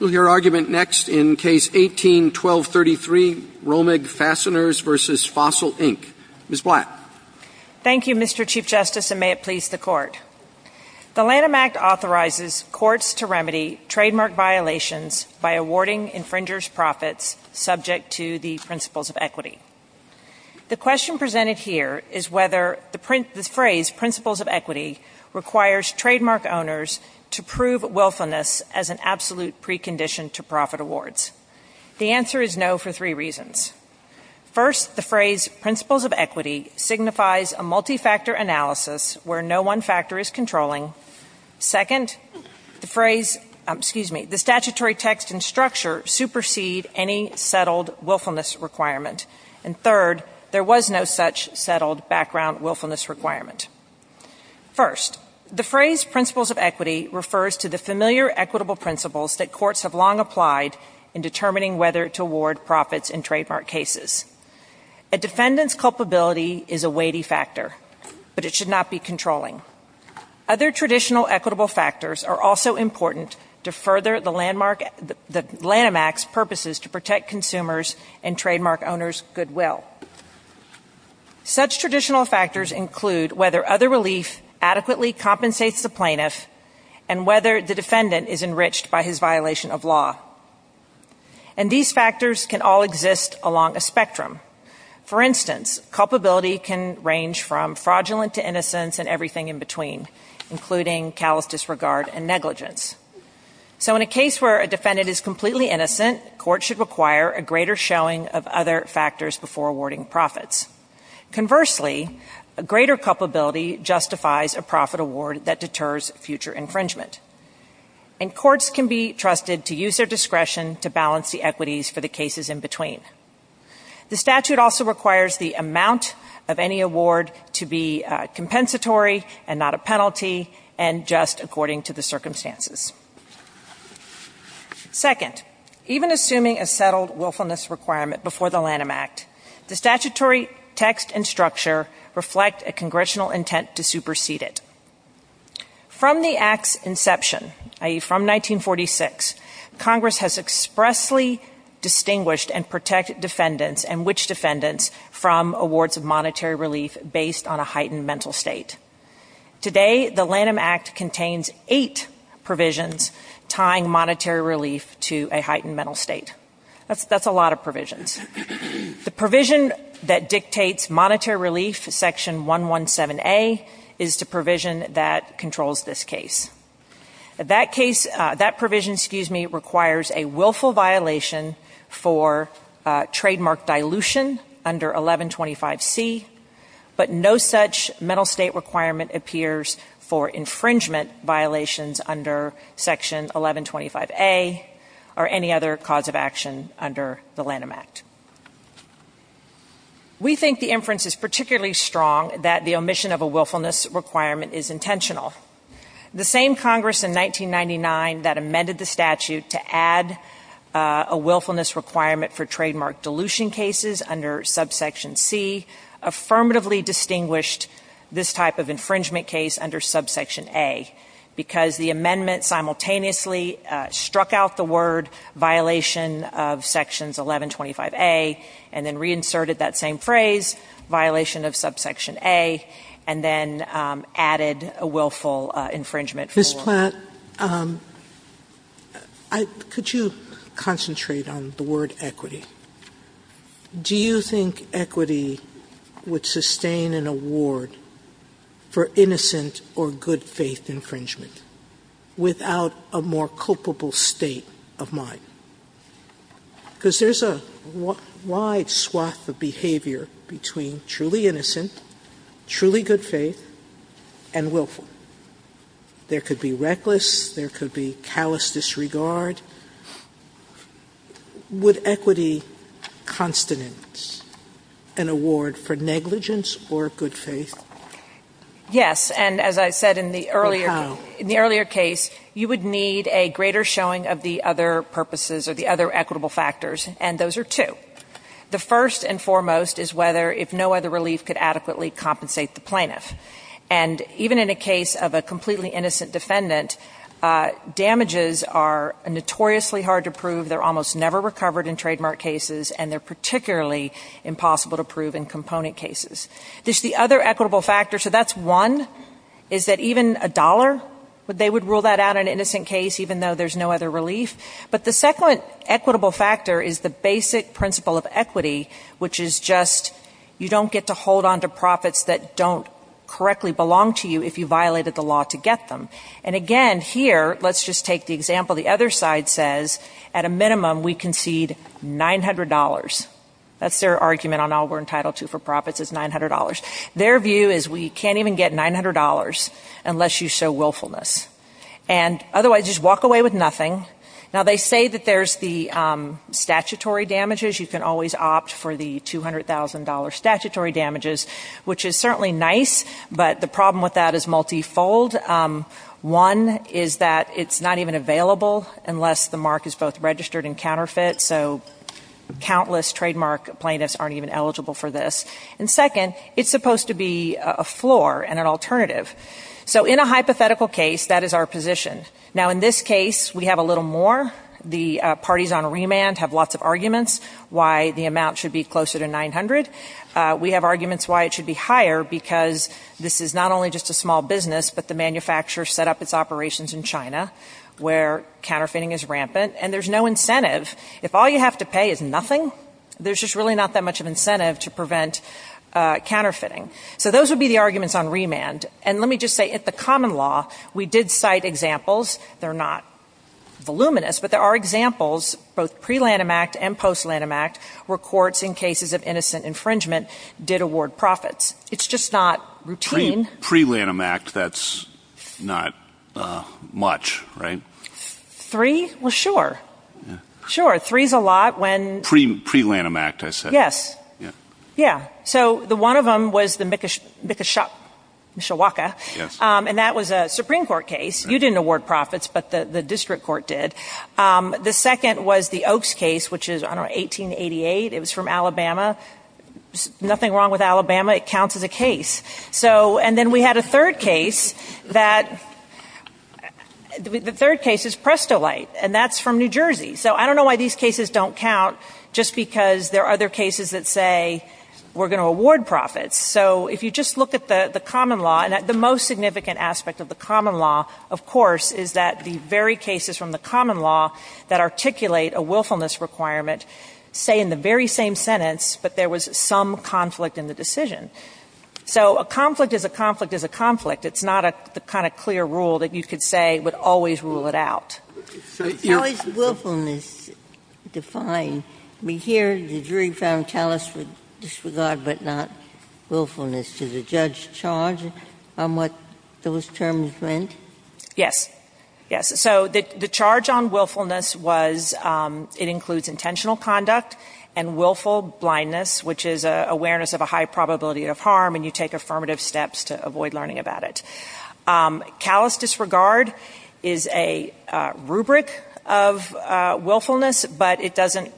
Your argument next in Case 18-1233, Romag Fasteners v. Fossil, Inc. Ms. Blatt. Thank you, Mr. Chief Justice, and may it please the Court. The Lanham Act authorizes courts to remedy trademark violations by awarding infringers' profits subject to the principles of equity. The question presented here is whether the phrase, principles of equity, requires trademark owners to prove willfulness as an absolute precondition to profit awards. The answer is no for three reasons. First, the phrase, principles of equity, signifies a multi-factor analysis where no one factor is controlling. Second, the phrase, excuse me, the statutory text and structure supersede any settled willfulness requirement. And third, there was no such settled background willfulness requirement. First, the phrase, principles of equity, refers to the familiar equitable principles that courts have long applied in determining whether to award profits in trademark cases. A defendant's culpability is a weighty factor, but it should not be controlling. Other traditional equitable factors are also important to further the Lanham Act's purposes to protect consumers and trademark owners' goodwill. Such traditional factors include whether other relief adequately compensates the plaintiff and whether the defendant is enriched by his violation of law. And these factors can all exist along a spectrum. For instance, culpability can range from fraudulent to innocence and everything in between, including callous disregard and negligence. So in a case where a defendant is completely innocent, court should require a greater showing of other factors before awarding profits. Conversely, a greater culpability justifies a profit award that deters future infringement. And courts can be trusted to use their discretion to balance the equities for the cases in between. The statute also requires the amount of any award to be compensatory and not a penalty and just according to the circumstances. Second, even assuming a settled willfulness requirement before the Lanham Act, the statutory text and structure reflect a congressional intent to supersede it. From the Act's inception, i.e., from 1946, Congress has expressly distinguished and protected defendants and witch defendants from awards of monetary relief based on a heightened mental state. Today, the Lanham Act contains eight provisions tying monetary relief to a heightened mental state. That's a lot of provisions. The provision that dictates monetary relief, Section 117A, is the provision that controls this case. That provision requires a willful violation for trademark dilution under 1125C, but no such mental state requirement appears for infringement violations under Section 1125A or any other cause of action under the Lanham Act. We think the inference is particularly strong that the omission of a willfulness requirement is intentional. The same Congress in 1999 that amended the statute to add a willfulness requirement for trademark dilution cases under subsection C affirmatively distinguished this type of infringement case under subsection A, because the amendment simultaneously struck out the word violation of sections 1125A and then reinserted that same phrase, violation of subsection A, and then added a willful infringement. Sotomayor, Ms. Platt, could you concentrate on the word equity? Do you think equity would sustain an award for innocent or good faith infringement without a more culpable state of mind? Because there's a wide swath of behavior between truly innocent, truly good faith, and willful. There could be reckless. There could be callous disregard. Would equity constitute an award for negligence or good faith? Yes. And as I said in the earlier case, you would need a greater showing of the other purposes or the other equitable factors, and those are two. The first and foremost is whether, if no other relief could adequately compensate the plaintiff. And even in a case of a completely innocent defendant, damages are notoriously hard to prove. They're almost never recovered in trademark cases, and they're particularly impossible to prove in component cases. There's the other equitable factor. So that's one, is that even a dollar, they would rule that out in an innocent case even though there's no other relief. But the second equitable factor is the basic principle of equity, which is just you don't get to hold on to profits that don't correctly belong to you if you violated the law to get them. And again, here, let's just take the example. The other side says, at a minimum, we concede $900. That's their argument on all we're entitled to for profits is $900. Their view is we can't even get $900 unless you show willfulness. And otherwise, just walk away with nothing. Now, they say that there's the statutory damages. You can always opt for the $200,000 statutory damages, which is certainly nice, but the problem with that is multifold. One is that it's not even available unless the mark is both registered and counterfeit, so countless trademark plaintiffs aren't even eligible for this. And second, it's supposed to be a floor and an alternative. So in a hypothetical case, that is our position. Now, in this case, we have a little more. The parties on remand have lots of arguments why the amount should be closer to $900. We have arguments why it should be higher because this is not only just a small business, but the manufacturer set up its operations in China where counterfeiting is rampant. And there's no incentive. If all you have to pay is nothing, there's just really not that much of incentive to prevent counterfeiting. So those would be the arguments on remand. And let me just say, at the common law, we did cite examples. They're not voluminous, but there are examples, both pre-Lanham Act and post-Lanham Act, where courts in cases of innocent infringement did award profits. It's just not routine. Pre-Lanham Act, that's not much, right? Three? Well, sure. Sure. Three is a lot when – Pre-Lanham Act, I said. Yes. Yeah. So the one of them was the Mikishawaka, and that was a Supreme Court case. You didn't award profits, but the district court did. The second was the Oaks case, which is, I don't know, 1888. It was from Alabama. Nothing wrong with Alabama. It counts as a case. And then we had a third case that – the third case is Prestolite, and that's from New Jersey. So I don't know why these cases don't count, just because there are other cases that say, we're going to award profits. So if you just look at the common law, and the most significant aspect of the common law, of course, is that the very cases from the common law that articulate a willfulness requirement say in the very same sentence, but there was some conflict in the decision. So a conflict is a conflict is a conflict. It's not a kind of clear rule that you could say would always rule it out. Sotomayor, how is willfulness defined? I mean, here the jury found callous disregard, but not willfulness. Did the judge charge on what those terms meant? Yes. Yes. So the charge on willfulness was it includes intentional conduct and willful blindness, which is awareness of a high probability of harm, and you take affirmative steps to avoid learning about it. Callous disregard is a rubric of willfulness, but it doesn't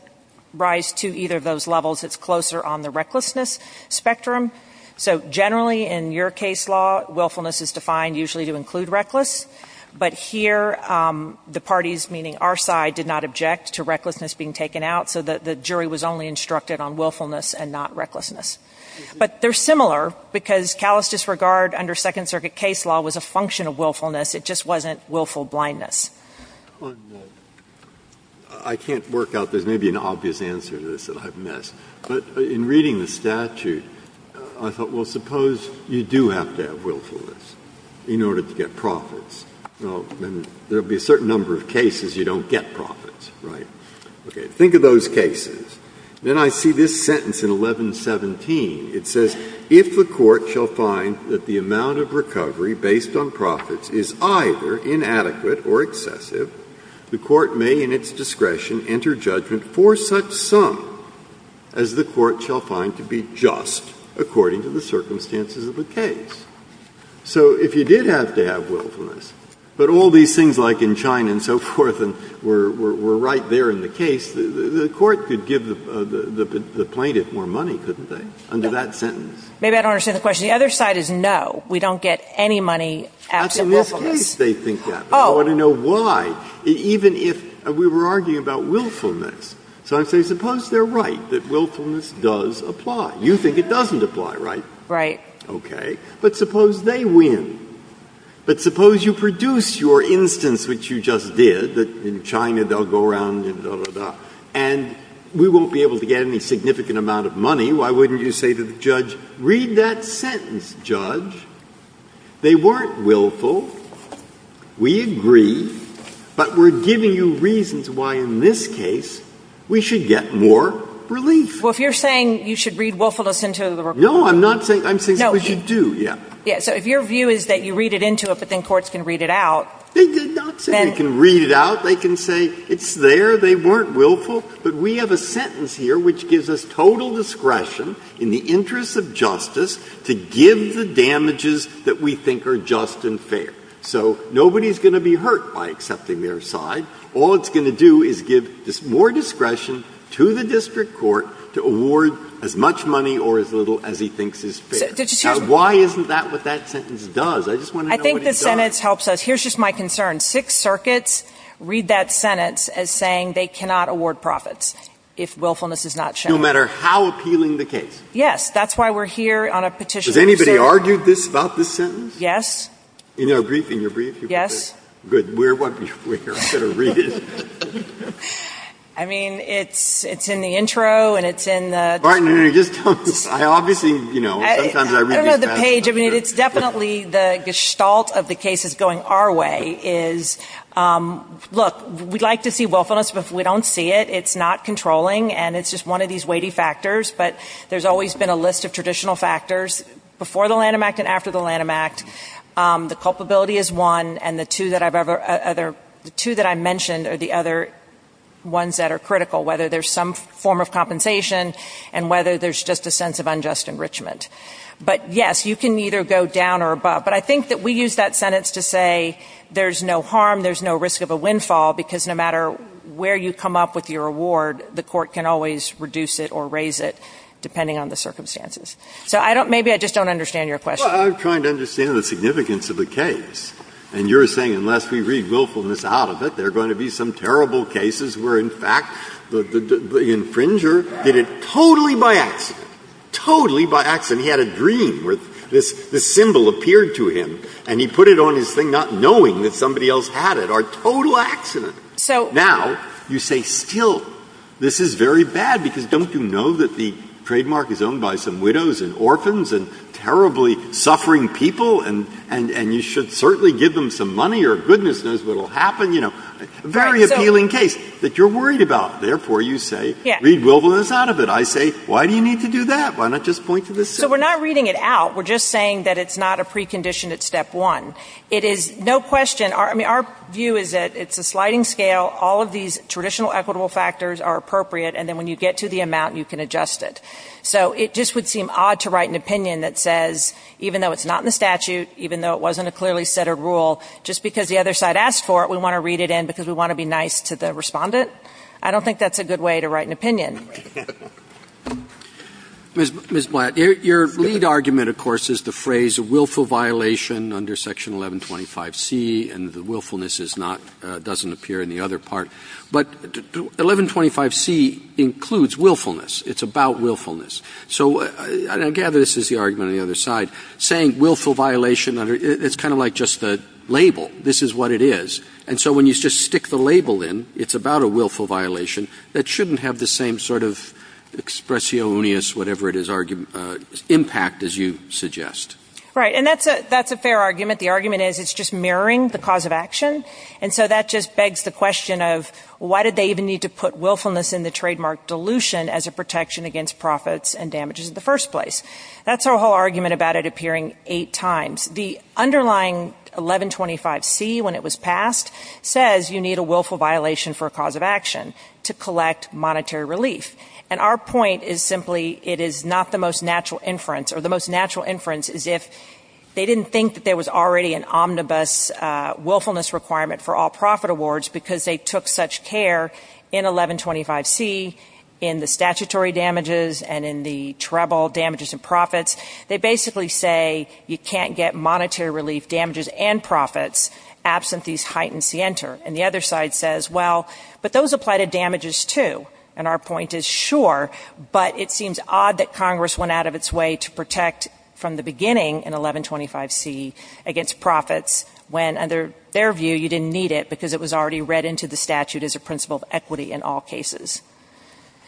rise to either of those levels. It's closer on the recklessness spectrum. So generally in your case law, willfulness is defined usually to include reckless, but here the parties, meaning our side, did not object to recklessness being taken out, so the jury was only instructed on willfulness and not recklessness. But they're similar because callous disregard under Second Circuit case law was a function of willfulness. It just wasn't willful blindness. Breyer. I can't work out. There's maybe an obvious answer to this that I've missed. But in reading the statute, I thought, well, suppose you do have to have willfulness in order to get profits. Well, then there will be a certain number of cases you don't get profits, right? Okay. Think of those cases. Then I see this sentence in 1117. It says, If the court shall find that the amount of recovery based on profits is either inadequate or excessive, the court may in its discretion enter judgment for such sum as the court shall find to be just according to the circumstances of the case. So if you did have to have willfulness, but all these things like in China and so forth and were right there in the case, the court could give the plaintiff more money, couldn't they, under that sentence? Maybe I don't understand the question. The other side is no. We don't get any money absent willfulness. That's in this case they think that. But I want to know why. Even if we were arguing about willfulness. So I'm saying suppose they're right, that willfulness does apply. You think it doesn't apply, right? Right. Okay. But suppose they win. But suppose you produce your instance, which you just did, that in China they'll go around and dah, dah, dah. And we won't be able to get any significant amount of money. Why wouldn't you say to the judge, read that sentence, judge. They weren't willful. We agree. But we're giving you reasons why in this case we should get more relief. Well, if you're saying you should read willfulness into the recovery. No, I'm not saying that. I'm saying suppose you do. Yeah. So if your view is that you read it into it, but then courts can read it out. They did not say they can read it out. They can say it's there. They weren't willful. But we have a sentence here which gives us total discretion in the interest of justice to give the damages that we think are just and fair. So nobody's going to be hurt by accepting their side. All it's going to do is give more discretion to the district court to award as much money or as little as he thinks is fair. Why isn't that what that sentence does? I just want to know what it does. I think the sentence helps us. Here's just my concern. Six circuits read that sentence as saying they cannot award profits if willfulness is not shown. No matter how appealing the case. Yes. That's why we're here on a petition. Has anybody argued this, about this sentence? Yes. In your briefing, your briefing. Yes. We're going to read it. I mean, it's in the intro and it's in the description. I don't know the page. I mean, it's definitely the gestalt of the case is going our way is, look, we'd like to see willfulness, but if we don't see it, it's not controlling and it's just one of these weighty factors. But there's always been a list of traditional factors before the Lanham Act and after the Lanham Act. The culpability is one. And the two that I mentioned are the other ones that are critical, whether there's some form of compensation and whether there's just a sense of unjust enrichment. But, yes, you can either go down or above. But I think that we use that sentence to say there's no harm, there's no risk of a windfall, because no matter where you come up with your award, the court can always reduce it or raise it, depending on the circumstances. So I don't – maybe I just don't understand your question. Well, I'm trying to understand the significance of the case. And you're saying unless we read willfulness out of it, there are going to be some consequences. Well, the infringer did it totally by accident. Totally by accident. He had a dream where this symbol appeared to him, and he put it on his thing not knowing that somebody else had it. A total accident. Now, you say, still, this is very bad, because don't you know that the trademark is owned by some widows and orphans and terribly suffering people, and you should certainly give them some money or goodness knows what will happen? You know, a very appealing case that you're worried about. Therefore, you say, read willfulness out of it. I say, why do you need to do that? Why not just point to the symbol? So we're not reading it out. We're just saying that it's not a precondition at step one. It is no question. I mean, our view is that it's a sliding scale. All of these traditional equitable factors are appropriate, and then when you get to the amount, you can adjust it. So it just would seem odd to write an opinion that says, even though it's not in the statute, even though it wasn't a clearly set of rule, just because the other side asked for it, we want to read it in because we want to be nice to the Respondent? I don't think that's a good way to write an opinion. Mr. Blatt, your lead argument, of course, is the phrase willful violation under Section 1125C, and the willfulness is not, doesn't appear in the other part. But 1125C includes willfulness. It's about willfulness. So I gather this is the argument on the other side. Saying willful violation, it's kind of like just the label. This is what it is. And so when you just stick the label in, it's about a willful violation. That shouldn't have the same sort of expression, whatever it is, impact, as you suggest. Right. And that's a fair argument. The argument is it's just mirroring the cause of action, and so that just begs the question of why did they even need to put willfulness in the trademark dilution as a protection against profits and damages in the first place? That's our whole argument about it appearing eight times. The underlying 1125C, when it was passed, says you need a willful violation for a cause of action to collect monetary relief. And our point is simply it is not the most natural inference, or the most natural inference is if they didn't think that there was already an omnibus willfulness requirement for all profit awards because they took such care in 1125C in the statutory damages and in the treble damages and profits. They basically say you can't get monetary relief damages and profits absent these heightened scienter. And the other side says, well, but those apply to damages, too. And our point is, sure, but it seems odd that Congress went out of its way to protect from the beginning in 1125C against profits when, under their view, you didn't need it because it was already read into the statute as a principle of equity in all cases.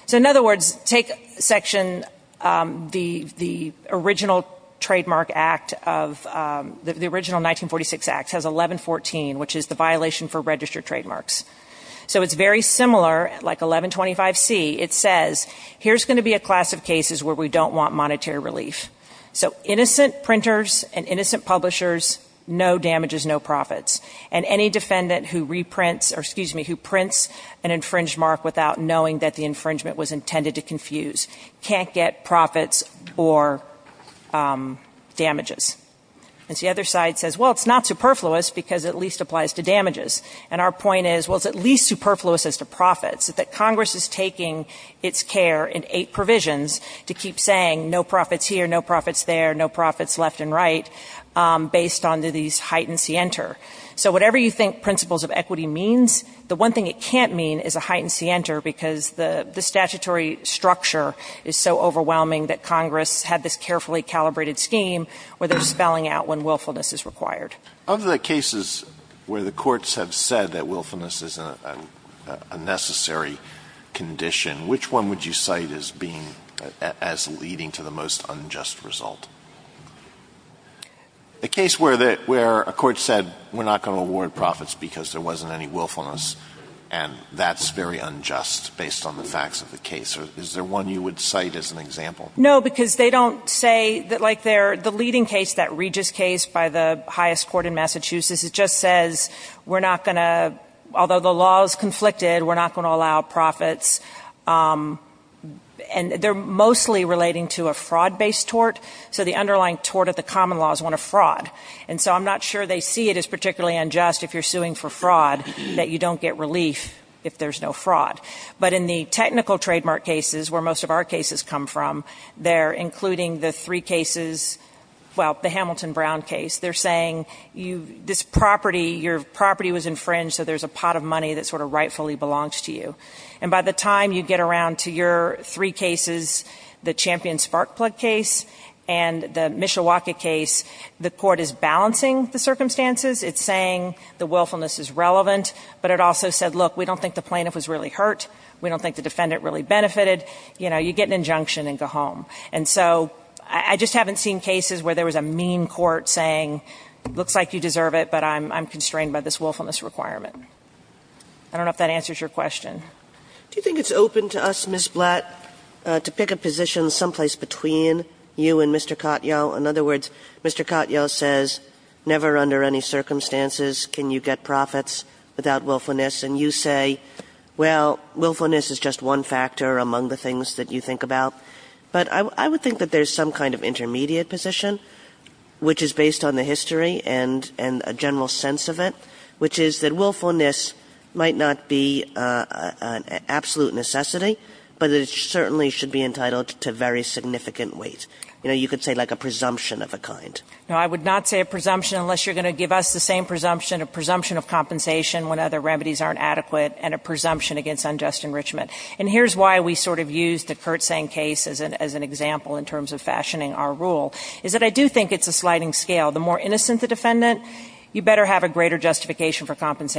So, in other words, take section, the original trademark act of, the original 1946 act has 1114, which is the violation for registered trademarks. So it's very similar, like 1125C. It says, here's going to be a class of cases where we don't want monetary relief. So innocent printers and innocent publishers, no damages, no profits. And any defendant who reprints, or excuse me, who prints an infringed mark without knowing that the infringement was intended to confuse can't get profits or damages. And the other side says, well, it's not superfluous because it at least applies to damages. And our point is, well, it's at least superfluous as to profits. That Congress is taking its care in eight provisions to keep saying no profits here, no profits there, no profits left and right based on these heightened scienter. So whatever you think principles of equity means, the one thing it can't mean is there's a heightened scienter because the statutory structure is so overwhelming that Congress had this carefully calibrated scheme where they're spelling out when willfulness is required. Alito Of the cases where the courts have said that willfulness is a necessary condition, which one would you cite as being, as leading to the most unjust result? A case where a court said we're not going to award profits because there wasn't any willfulness. And that's very unjust based on the facts of the case. Is there one you would cite as an example? O'Connor No, because they don't say, like the leading case, that Regis case by the highest court in Massachusetts, it just says we're not going to, although the law is conflicted, we're not going to allow profits. And they're mostly relating to a fraud-based tort. So the underlying tort of the common law is one of fraud. And so I'm not sure they see it as particularly unjust if you're suing for fraud that you don't get relief if there's no fraud. But in the technical trademark cases, where most of our cases come from, they're including the three cases, well, the Hamilton-Brown case, they're saying this property, your property was infringed so there's a pot of money that sort of rightfully belongs to you. And by the time you get around to your three cases, the Champion-Sparkplug case and the Mishawaka case, the court is balancing the circumstances. It's saying the willfulness is relevant. But it also said, look, we don't think the plaintiff was really hurt. We don't think the defendant really benefited. You know, you get an injunction and go home. And so I just haven't seen cases where there was a mean court saying it looks like you deserve it, but I'm constrained by this willfulness requirement. I don't know if that answers your question. Kagan. Do you think it's open to us, Ms. Blatt, to pick a position someplace between you and Mr. Katyal? In other words, Mr. Katyal says never under any circumstances can you get profits without willfulness, and you say, well, willfulness is just one factor among the things that you think about. But I would think that there's some kind of intermediate position, which is based on the history and a general sense of it, which is that willfulness might not be an absolute necessity, but it certainly should be entitled to very significant weight. You know, you could say like a presumption of a kind. No, I would not say a presumption unless you're going to give us the same presumption, a presumption of compensation when other remedies aren't adequate and a presumption against unjust enrichment. And here's why we sort of use the Kurtzang case as an example in terms of fashioning our rule, is that I do think it's a sliding scale. The more innocent the defendant, you better have a greater justification for And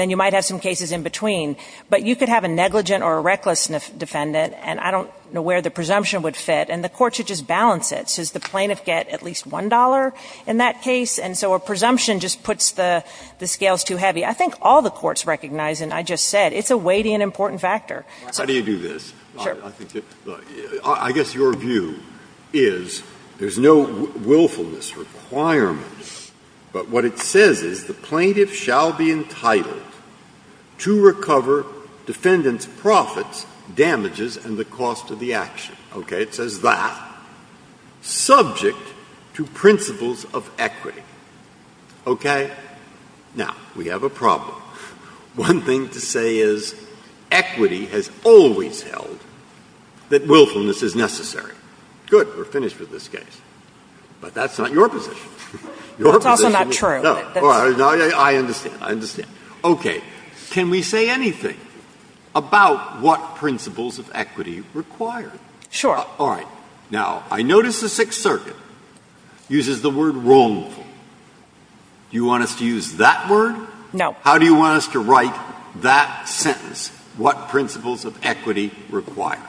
then you might have some cases in between. But you could have a negligent or a reckless defendant, and I don't know where the presumption would fit, and the court should just balance it. So does the plaintiff get at least $1 in that case? And so a presumption just puts the scales too heavy. I think all the courts recognize, and I just said, it's a weighty and important factor. Breyer. Breyer. How do you do this? Sure. I think that the – I guess your view is there's no willfulness requirement, but what it says is the plaintiff shall be entitled to recover defendant's profits, damages, and the cost of the action. Okay? It says that. Subject to principles of equity. Okay? Now, we have a problem. One thing to say is equity has always held that willfulness is necessary. Good. We're finished with this case. But that's not your position. That's also not true. All right. I understand. I understand. Okay. Can we say anything about what principles of equity require? Sure. All right. Now, I notice the Sixth Circuit uses the word wrongful. Do you want us to use that word? No. How do you want us to write that sentence, what principles of equity require?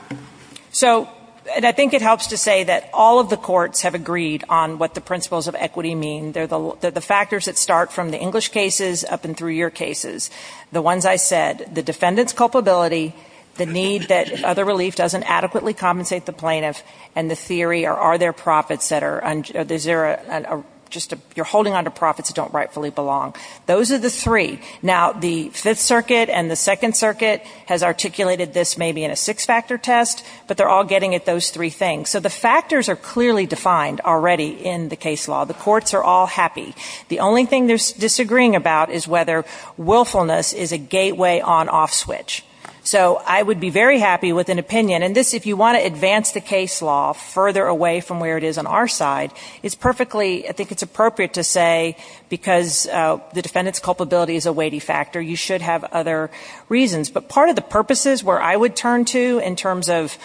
So, and I think it helps to say that all of the courts have agreed on what the principles of equity mean. They're the factors that start from the English cases up and through your cases. The ones I said, the defendant's culpability, the need that other relief doesn't adequately compensate the plaintiff, and the theory are there profits that are just you're holding onto profits that don't rightfully belong. Those are the three. Now, the Fifth Circuit and the Second Circuit has articulated this maybe in a six-factor test, but they're all getting at those three things. So, the factors are clearly defined already in the case law. The courts are all happy. The only thing they're disagreeing about is whether willfulness is a gateway on-off switch. So, I would be very happy with an opinion, and this, if you want to advance the case law further away from where it is on our side, it's perfectly, I think it's appropriate to say because the defendant's culpability is a weighty factor, you should have other reasons. But part of the purposes where I would turn to in terms of,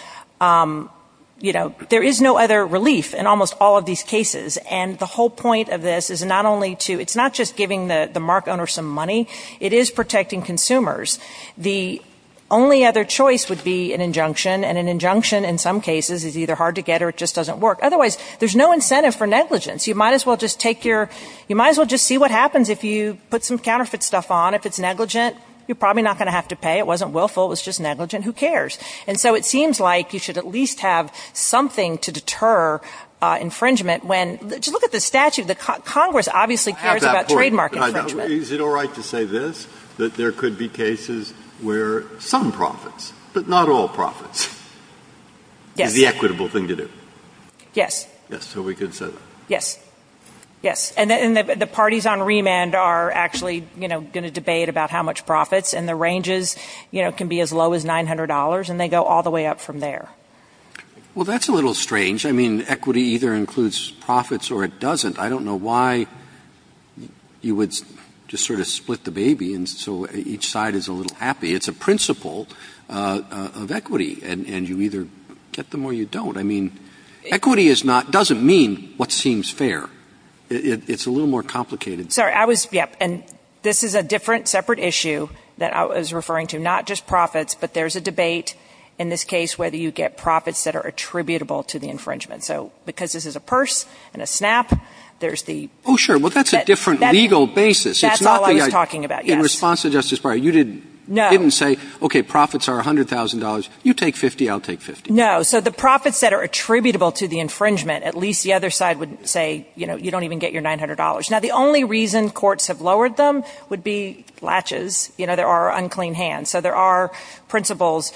you know, there is no other relief in almost all of these cases, and the whole point of this is not only to, it's not just giving the mark owner some money, it is protecting consumers. The only other choice would be an injunction, and an injunction in some cases is either hard to get or it just doesn't work. Otherwise, there's no incentive for negligence. You might as well just take your, you might as well just see what happens if you put some counterfeit stuff on. If it's negligent, you're probably not going to have to pay. It wasn't willful. It was just negligent. Who cares? And so it seems like you should at least have something to deter infringement when, just look at the statute. Congress obviously cares about trademark infringement. Breyer. Is it all right to say this, that there could be cases where some profits, but not all profits, is the equitable thing to do? Yes. Yes. So we could say that. Yes. Yes. And the parties on remand are actually going to debate about how much profits, and the ranges can be as low as $900, and they go all the way up from there. Well, that's a little strange. I mean, equity either includes profits or it doesn't. I don't know why you would just sort of split the baby so each side is a little happy. It's a principle of equity, and you either get them or you don't. I mean, equity is not, doesn't mean what seems fair. It's a little more complicated. Sorry, I was, yep, and this is a different, separate issue that I was referring to, not just profits, but there's a debate in this case whether you get profits that are attributable to the infringement. So because this is a purse and a snap, there's the ---- Oh, sure. Well, that's a different legal basis. That's all I was talking about, yes. In response to Justice Breyer, you didn't say, okay, profits are $100,000. You take 50, I'll take 50. No. So the profits that are attributable to the infringement, at least the other side would say, you know, you don't even get your $900. Now, the only reason courts have lowered them would be latches. You know, there are unclean hands. So there are principles.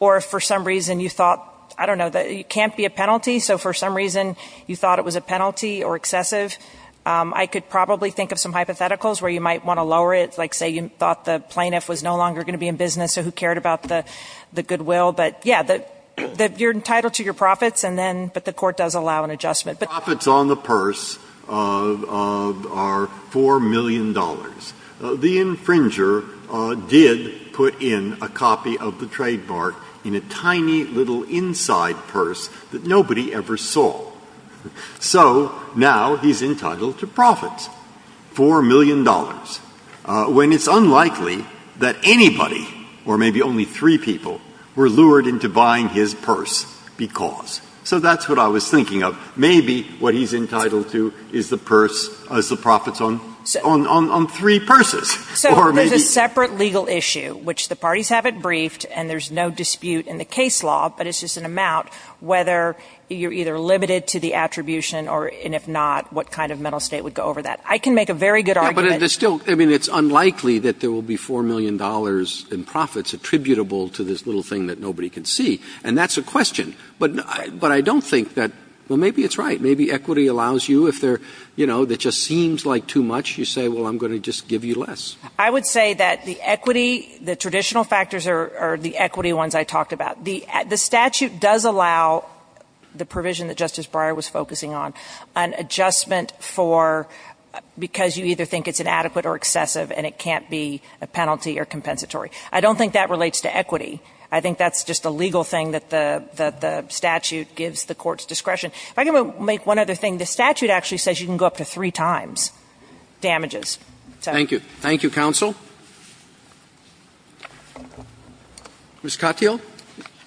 Or if for some reason you thought, I don't know, it can't be a penalty, so for some reason you thought it was a penalty or excessive, I could probably think of some hypotheticals where you might want to lower it, like say you thought the plaintiff was no longer going to be in business or who cared about the goodwill. But, yeah, you're entitled to your profits, but the court does allow an adjustment. But the profits on the purse are $4 million. The infringer did put in a copy of the trademark in a tiny little inside purse that nobody ever saw. So now he's entitled to profits, $4 million, when it's unlikely that anybody, or maybe only three people, were lured into buying his purse because. So that's what I was thinking of. Maybe what he's entitled to is the purse, is the profits on three purses. Or maybe. So there's a separate legal issue, which the parties have it briefed, and there's no dispute in the case law, but it's just an amount, whether you're either limited to the attribution or if not, what kind of mental state would go over that. I can make a very good argument. Yeah, but there's still, I mean, it's unlikely that there will be $4 million in profits attributable to this little thing that nobody can see. And that's a question. But I don't think that, well, maybe it's right. Maybe equity allows you if there, you know, that just seems like too much, you say, well, I'm going to just give you less. I would say that the equity, the traditional factors are the equity ones I talked about. The statute does allow the provision that Justice Breyer was focusing on, an adjustment for because you either think it's inadequate or excessive and it can't be a penalty or compensatory. I don't think that relates to equity. I think that's just a legal thing that the statute gives the Court's discretion. If I can make one other thing, the statute actually says you can go up to three times damages. So. Thank you. Thank you, counsel. Ms. Katyal.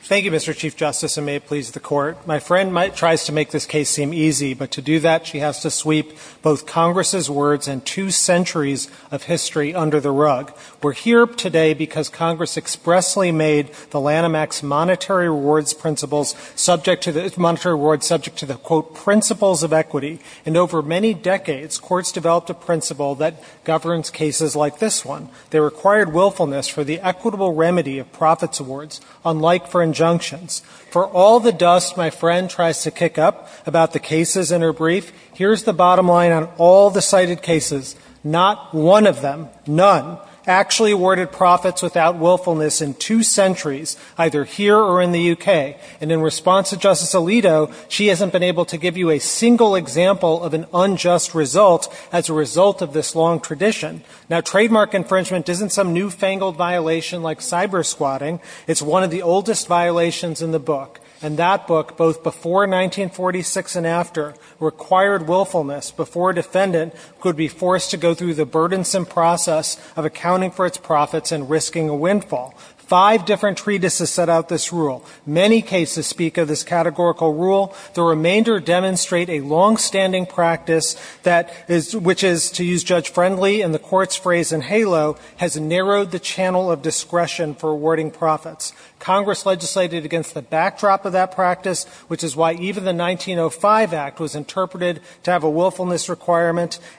Thank you, Mr. Chief Justice, and may it please the Court. My friend tries to make this case seem easy, but to do that, she has to sweep both Congress's words and two centuries of history under the rug. We're here today because Congress expressly made the Lanham Act's monetary rewards principles subject to the, monetary rewards subject to the, quote, principles of equity. And over many decades, courts developed a principle that governs cases like this one. They required willfulness for the equitable remedy of profits awards, unlike for injunctions. For all the dust my friend tries to kick up about the cases in her brief, here's the bottom line on all the cited cases. Not one of them, none, actually awarded profits without willfulness in two centuries either here or in the U.K. And in response to Justice Alito, she hasn't been able to give you a single example of an unjust result as a result of this long tradition. Now, trademark infringement isn't some newfangled violation like cyber squatting. It's one of the oldest violations in the book. And that book, both before 1946 and after, required willfulness before a defendant could be forced to go through the burdensome process of accounting for its profits and risking a windfall. Five different treatises set out this rule. Many cases speak of this categorical rule. The remainder demonstrate a longstanding practice that is, which is, to use Judge Friendly and the court's phrase in Halo, has narrowed the channel of discretion for awarding profits. Congress legislated against the backdrop of that practice, which is why even the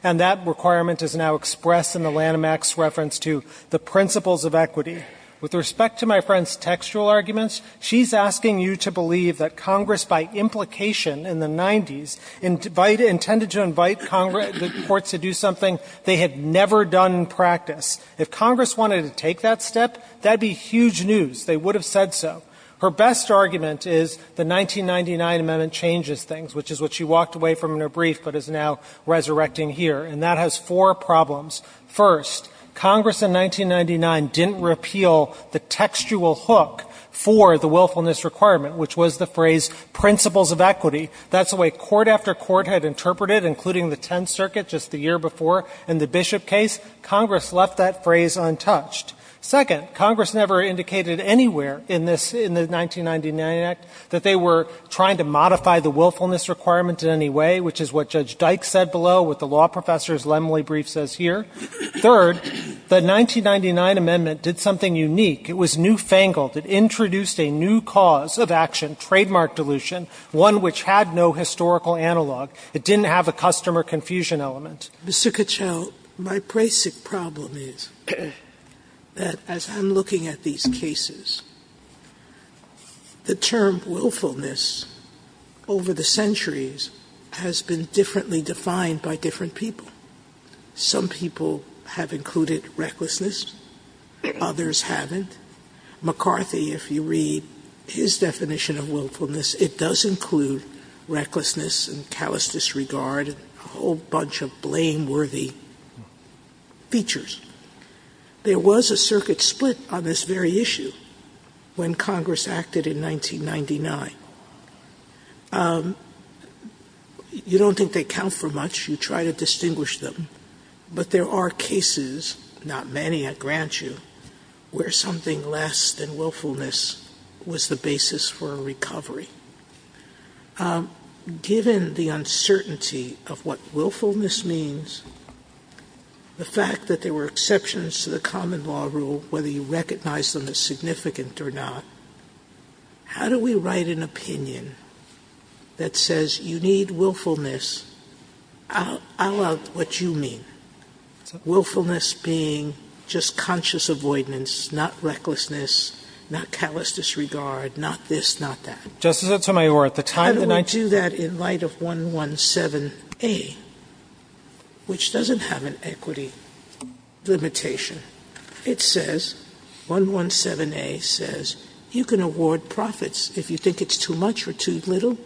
And that requirement is now expressed in the Lanham Act's reference to the principles of equity. With respect to my friend's textual arguments, she's asking you to believe that Congress, by implication in the 90s, intended to invite the courts to do something they had never done in practice. If Congress wanted to take that step, that would be huge news. They would have said so. Her best argument is the 1999 amendment changes things, which is what she walked away from in her brief but is now resurrecting here. And that has four problems. First, Congress in 1999 didn't repeal the textual hook for the willfulness requirement, which was the phrase principles of equity. That's the way court after court had interpreted it, including the Tenth Circuit just the year before and the Bishop case. Congress left that phrase untouched. Second, Congress never indicated anywhere in this, in the 1999 act, that they were trying to modify the willfulness requirement in any way, which is what Judge Dyke said below, what the law professor's Lemley brief says here. Third, the 1999 amendment did something unique. It was newfangled. It introduced a new cause of action, trademark dilution, one which had no historical analog. It didn't have a customer confusion element. Sotomayor, my basic problem is that as I'm looking at these cases, the term willfulness over the centuries has been differently defined by different people. Some people have included recklessness. Others haven't. McCarthy, if you read his definition of willfulness, it does include recklessness and callous disregard and a whole bunch of blameworthy features. There was a circuit split on this very issue when Congress acted in 1999. You don't think they count for much. You try to distinguish them. But there are cases, not many, I grant you, where something less than willfulness was the basis for a recovery. Given the uncertainty of what willfulness means, the fact that there were exceptions to the common law rule, whether you recognized them as significant or not, how do we write an opinion that says you need willfulness a la what you mean, willfulness being just conscious avoidance, not recklessness, not callous disregard, not this, not that? How do we do that in light of 117A, which doesn't have an equity limitation? It says, 117A says, you can award profits. If you think it's too much or too little,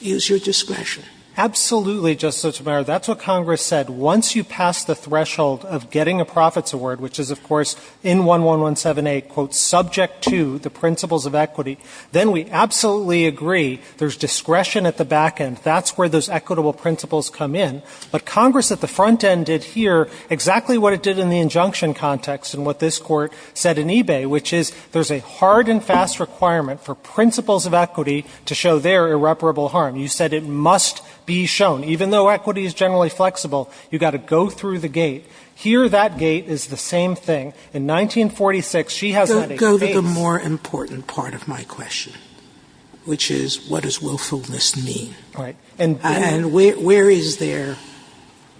use your discretion. Absolutely, Justice Sotomayor. That's what Congress said. Once you pass the threshold of getting a profits award, which is, of course, in discretion at the back end. That's where those equitable principles come in. But Congress at the front end did here exactly what it did in the injunction context and what this Court said in eBay, which is, there's a hard and fast requirement for principles of equity to show their irreparable harm. You said it must be shown. Even though equity is generally flexible, you've got to go through the gate. Here, that gate is the same thing. In 1946, she has that in place. That's the more important part of my question, which is, what does willfulness mean? Right. And where is there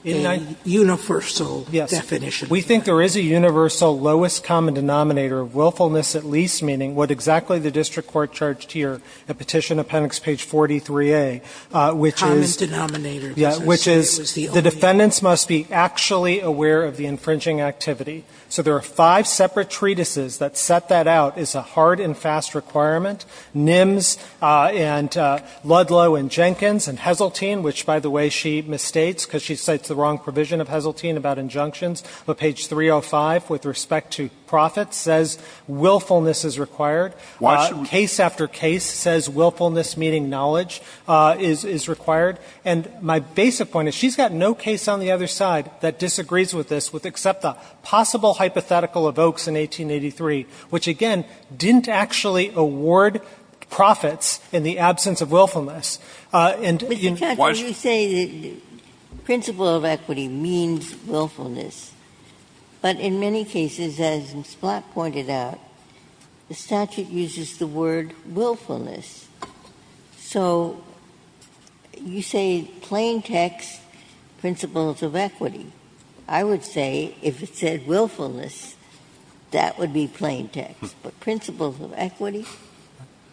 a universal definition? Yes. We think there is a universal lowest common denominator of willfulness, at least meaning what exactly the district court charged here at Petition Appendix page 43A, which is the defendants must be actually aware of the infringing activity. So there are five separate treatises that set that out as a hard and fast requirement. NIMS and Ludlow and Jenkins and Heseltine, which, by the way, she misstates because she cites the wrong provision of Heseltine about injunctions. But page 305 with respect to profits says willfulness is required. Case after case says willfulness meaning knowledge is required. And my basic point is, she's got no case on the other side that disagrees with this, except the possible hypothetical of Oaks in 1883, which, again, didn't actually award profits in the absence of willfulness. And in the case of Oaks, it doesn't actually award profits. Ginsburg. Mr. Katyal, you say that principle of equity means willfulness, but in many cases, as Ms. Black pointed out, the statute uses the word willfulness. So you say plain text principles of equity. I would say if it said willfulness, that would be plain text. But principles of equity?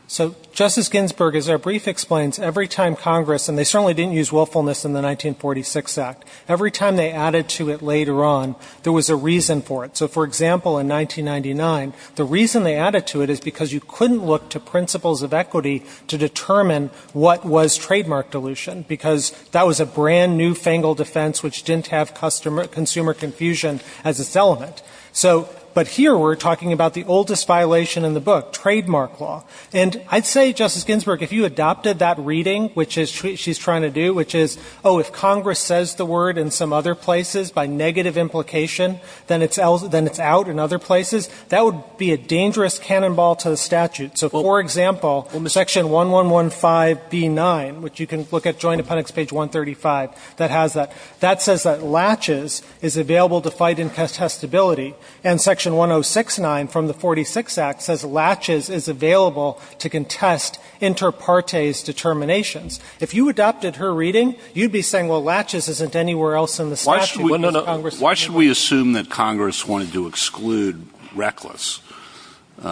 So, Justice Ginsburg, as our brief explains, every time Congress, and they certainly didn't use willfulness in the 1946 Act, every time they added to it later on, there was a reason for it. So, for example, in 1999, the reason they added to it is because you couldn't look to principles of equity to determine what was trademark dilution, because that was a brand-new fangled defense which didn't have consumer confusion as its element. So, but here we're talking about the oldest violation in the book, trademark law. And I'd say, Justice Ginsburg, if you adopted that reading, which she's trying to do, which is, oh, if Congress says the word in some other places by negative implication, then it's out in other places, that would be a dangerous cannonball to the statute. So, for example, Section 1115B9, which you can look at Joint Appendix, page 135, that has that, that says that latches is available to fight incontestability, and Section 1069 from the 1946 Act says latches is available to contest inter partes determinations. If you adopted her reading, you'd be saying, well, latches isn't anywhere else in the statute. No, no. Why should we assume that Congress wanted to exclude reckless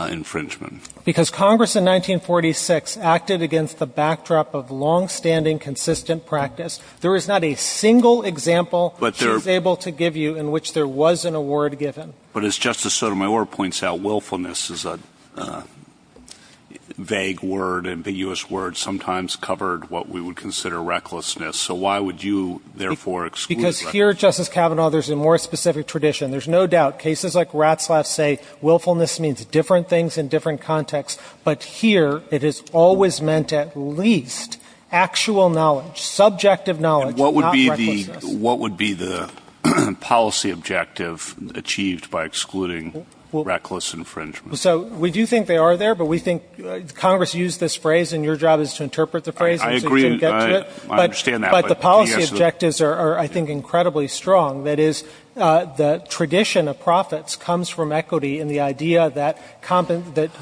infringement? Because Congress in 1946 acted against the backdrop of longstanding consistent practice. There is not a single example she's able to give you in which there was an award given. But as Justice Sotomayor points out, willfulness is a vague word, ambiguous word, sometimes covered what we would consider recklessness. So why would you, therefore, exclude recklessness? Because here, Justice Kavanaugh, there's a more specific tradition. There's no doubt. Cases like Ratzlaff's say willfulness means different things in different contexts. But here, it has always meant at least actual knowledge, subjective knowledge, not recklessness. And what would be the policy objective achieved by excluding reckless infringement? So we do think they are there, but we think Congress used this phrase, and your job is to interpret the phrase. I agree. I understand that. But the policy objectives are, I think, incredibly strong. That is, the tradition of profits comes from equity and the idea that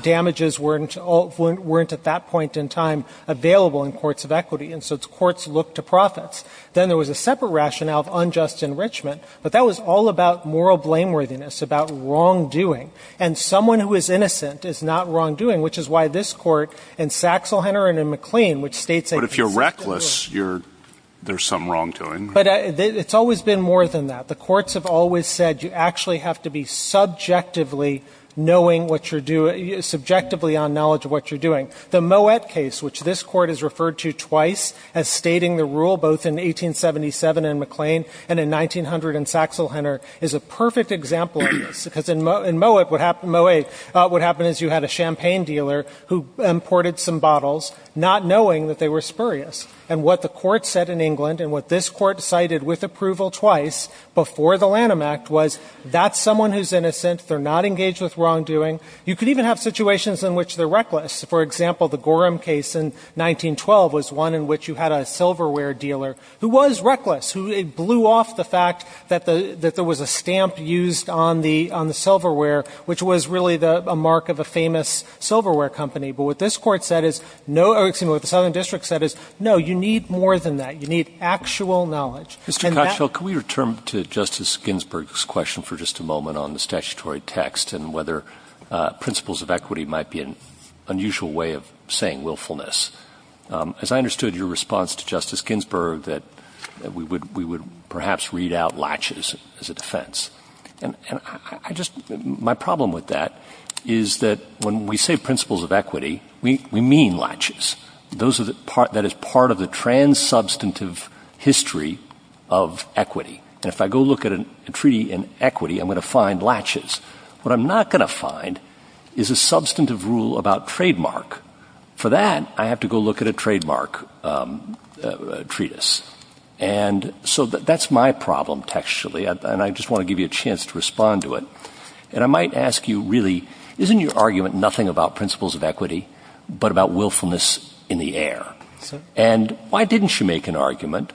damages weren't at that point in time available in courts of equity. And so courts look to profits. Then there was a separate rationale of unjust enrichment, but that was all about moral blameworthiness, about wrongdoing. And someone who is innocent is not wrongdoing, which is why this Court in Saxel Henner and in McLean, which states a consistent rule. But if you're reckless, there's some wrongdoing. But it's always been more than that. The courts have always said you actually have to be subjectively knowing what you're doing, subjectively on knowledge of what you're doing. The Moet case, which this Court has referred to twice as stating the rule, both in 1877 in McLean and in 1900 in Saxel Henner, is a perfect example of this. Because in Moet, what happened is you had a champagne dealer who imported some bottles, not knowing that they were spurious. And what the Court said in England, and what this Court cited with approval twice before the Lanham Act, was that's someone who's innocent. They're not engaged with wrongdoing. You could even have situations in which they're reckless. For example, the Gorham case in 1912 was one in which you had a silverware dealer who was reckless, who blew off the fact that there was a stamp used on the silverware, which was really a mark of a famous silverware company. But what this Court said is no — excuse me, what the Southern District said is, no, you need more than that. You need actual knowledge. And that — Roberts. Mr. Kotchal, can we return to Justice Ginsburg's question for just a moment on the statutory text and whether principles of equity might be an unusual way of saying willfulness? As I understood your response to Justice Ginsburg, that we would — we would perhaps read out latches as a defense. And I just — my problem with that is that when we say principles of equity, we mean latches. Those are the — that is part of the trans-substantive history of equity. And if I go look at a treaty in equity, I'm going to find latches. What I'm not going to find is a substantive rule about trademark. For that, I have to go look at a trademark treatise. And so that's my problem textually. And I just want to give you a chance to respond to it. And I might ask you, really, isn't your argument nothing about principles of equity but about willfulness in the air? Yes, sir. And why didn't you make an argument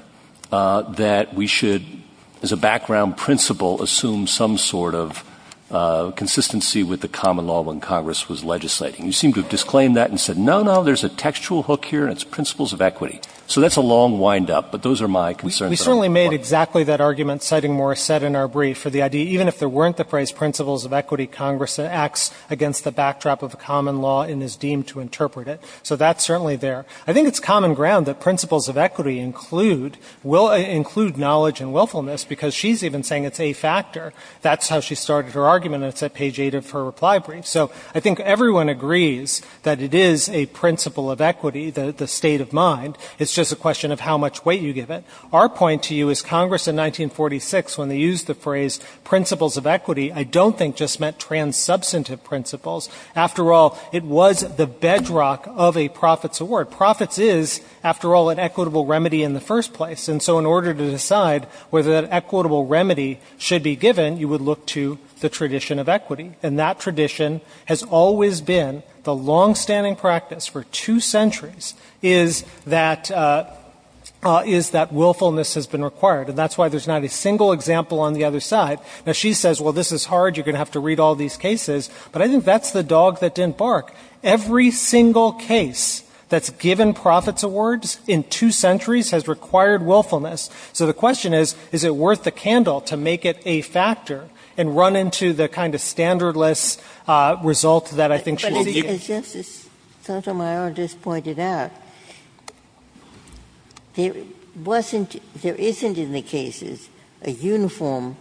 that we should, as a background principle, assume some sort of consistency with the common law when Congress was legislating? You seem to have disclaimed that and said, no, no, there's a textual hook here and it's principles of equity. So that's a long windup. But those are my concerns. We certainly made exactly that argument, citing Morrisette in our brief, for the idea, even if there weren't the phrase principles of equity, Congress acts against the backdrop of the common law and is deemed to interpret it. So that's certainly there. I think it's common ground that principles of equity include knowledge and willfulness because she's even saying it's a factor. That's how she started her argument, and it's at page 8 of her reply brief. So I think everyone agrees that it is a principle of equity, the state of mind. It's just a question of how much weight you give it. Our point to you is Congress in 1946, when they used the phrase principles of equity, I don't think just meant trans-substantive principles. After all, it was the bedrock of a profits award. Profits is, after all, an equitable remedy in the first place. And so in order to decide whether that equitable remedy should be given, you would look to the tradition of equity. And that tradition has always been the longstanding practice for two centuries is that willfulness has been required. And that's why there's not a single example on the other side. Now, she says, well, this is hard. You're going to have to read all these cases. But I think that's the dog that didn't bark. Every single case that's given profits awards in two centuries has required willfulness. So the question is, is it worth the candle to make it a factor and run into the kind of standardless result that I think she's seeking? As Justice Sotomayor just pointed out, there wasn't, there isn't in the cases, a uniform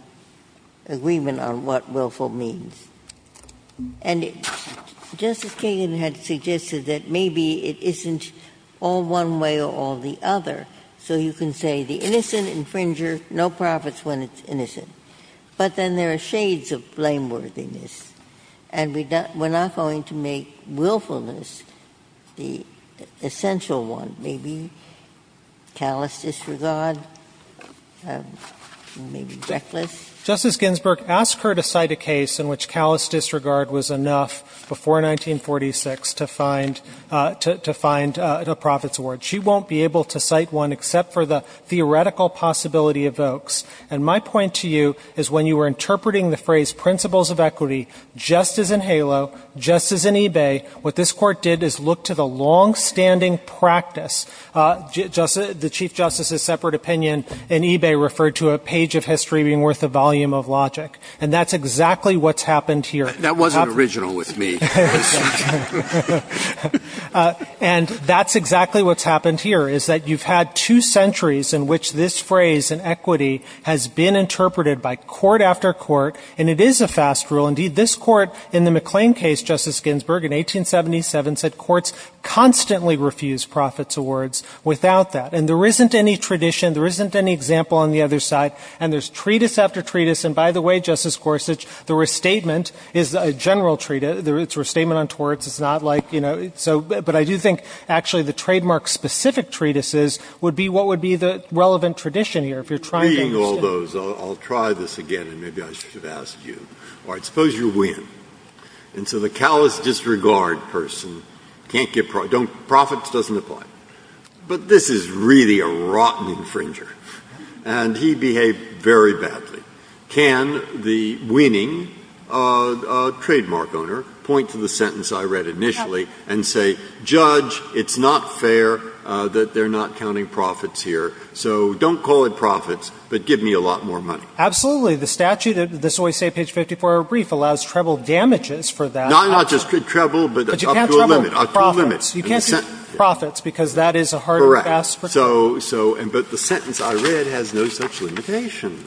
agreement on what willful means. And Justice Kagan had suggested that maybe it isn't all one way or all the other. So you can say the innocent infringer, no profits when it's innocent. But then there are shades of blameworthiness. And we're not going to make willfulness the essential one. Maybe callous disregard, maybe reckless. Justice Ginsburg asked her to cite a case in which callous disregard was enough before 1946 to find, to find a profits award. She won't be able to cite one except for the theoretical possibility evokes. And my point to you is when you were interpreting the phrase principles of equity just as in HALO, just as in eBay, what this court did is look to the longstanding practice. The Chief Justice's separate opinion in eBay referred to a page of history being worth a volume of logic. And that's exactly what's happened here. That wasn't original with me. And that's exactly what's happened here, is that you've had two centuries in which this phrase in equity has been interpreted by court after court. And it is a fast rule. Indeed, this court in the McLean case, Justice Ginsburg, in 1877 said courts constantly refuse profits awards without that. And there isn't any tradition. There isn't any example on the other side. And there's treatise after treatise. And by the way, Justice Gorsuch, the restatement is a general treatise. It's a restatement on torts. It's not like, you know, so but I do think actually the trademark specific treatises would be what would be the relevant tradition here, if you're trying to understand. Reading all those, I'll try this again and maybe I should ask you. All right. Suppose you win. And so the callous disregard person can't give profits, profits doesn't apply. But this is really a rotten infringer. And he behaved very badly. Can the winning trademark owner point to the sentence I read initially and say, Judge, it's not fair that they're not counting profits here. So don't call it profits, but give me a lot more money. Absolutely. The statute, this always say page 54 of our brief, allows treble damages for that. Not just treble, but up to a limit, up to a limit. But you can't treble profits. You can't treble profits because that is a harder task. Correct. But the sentence I read has no such limitation.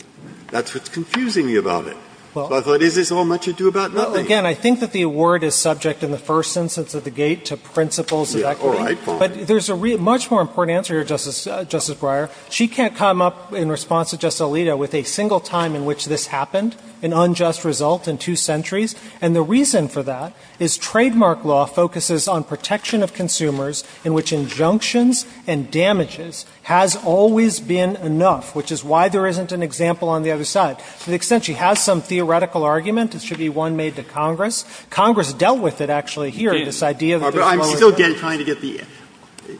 That's what's confusing me about it. I thought, is this all much ado about nothing? Again, I think that the word is subject in the first instance of the gate to principles of equity. But there's a much more important answer here, Justice Breyer. She can't come up in response to Justice Alito with a single time in which this happened, an unjust result in two centuries. And the reason for that is trademark law focuses on protection of consumers in which injunctions and damages has always been enough, which is why there isn't an example on the other side. To the extent she has some theoretical argument, it should be one made to Congress. Congress dealt with it, actually, here, this idea that there's no other way. I'm still trying to get the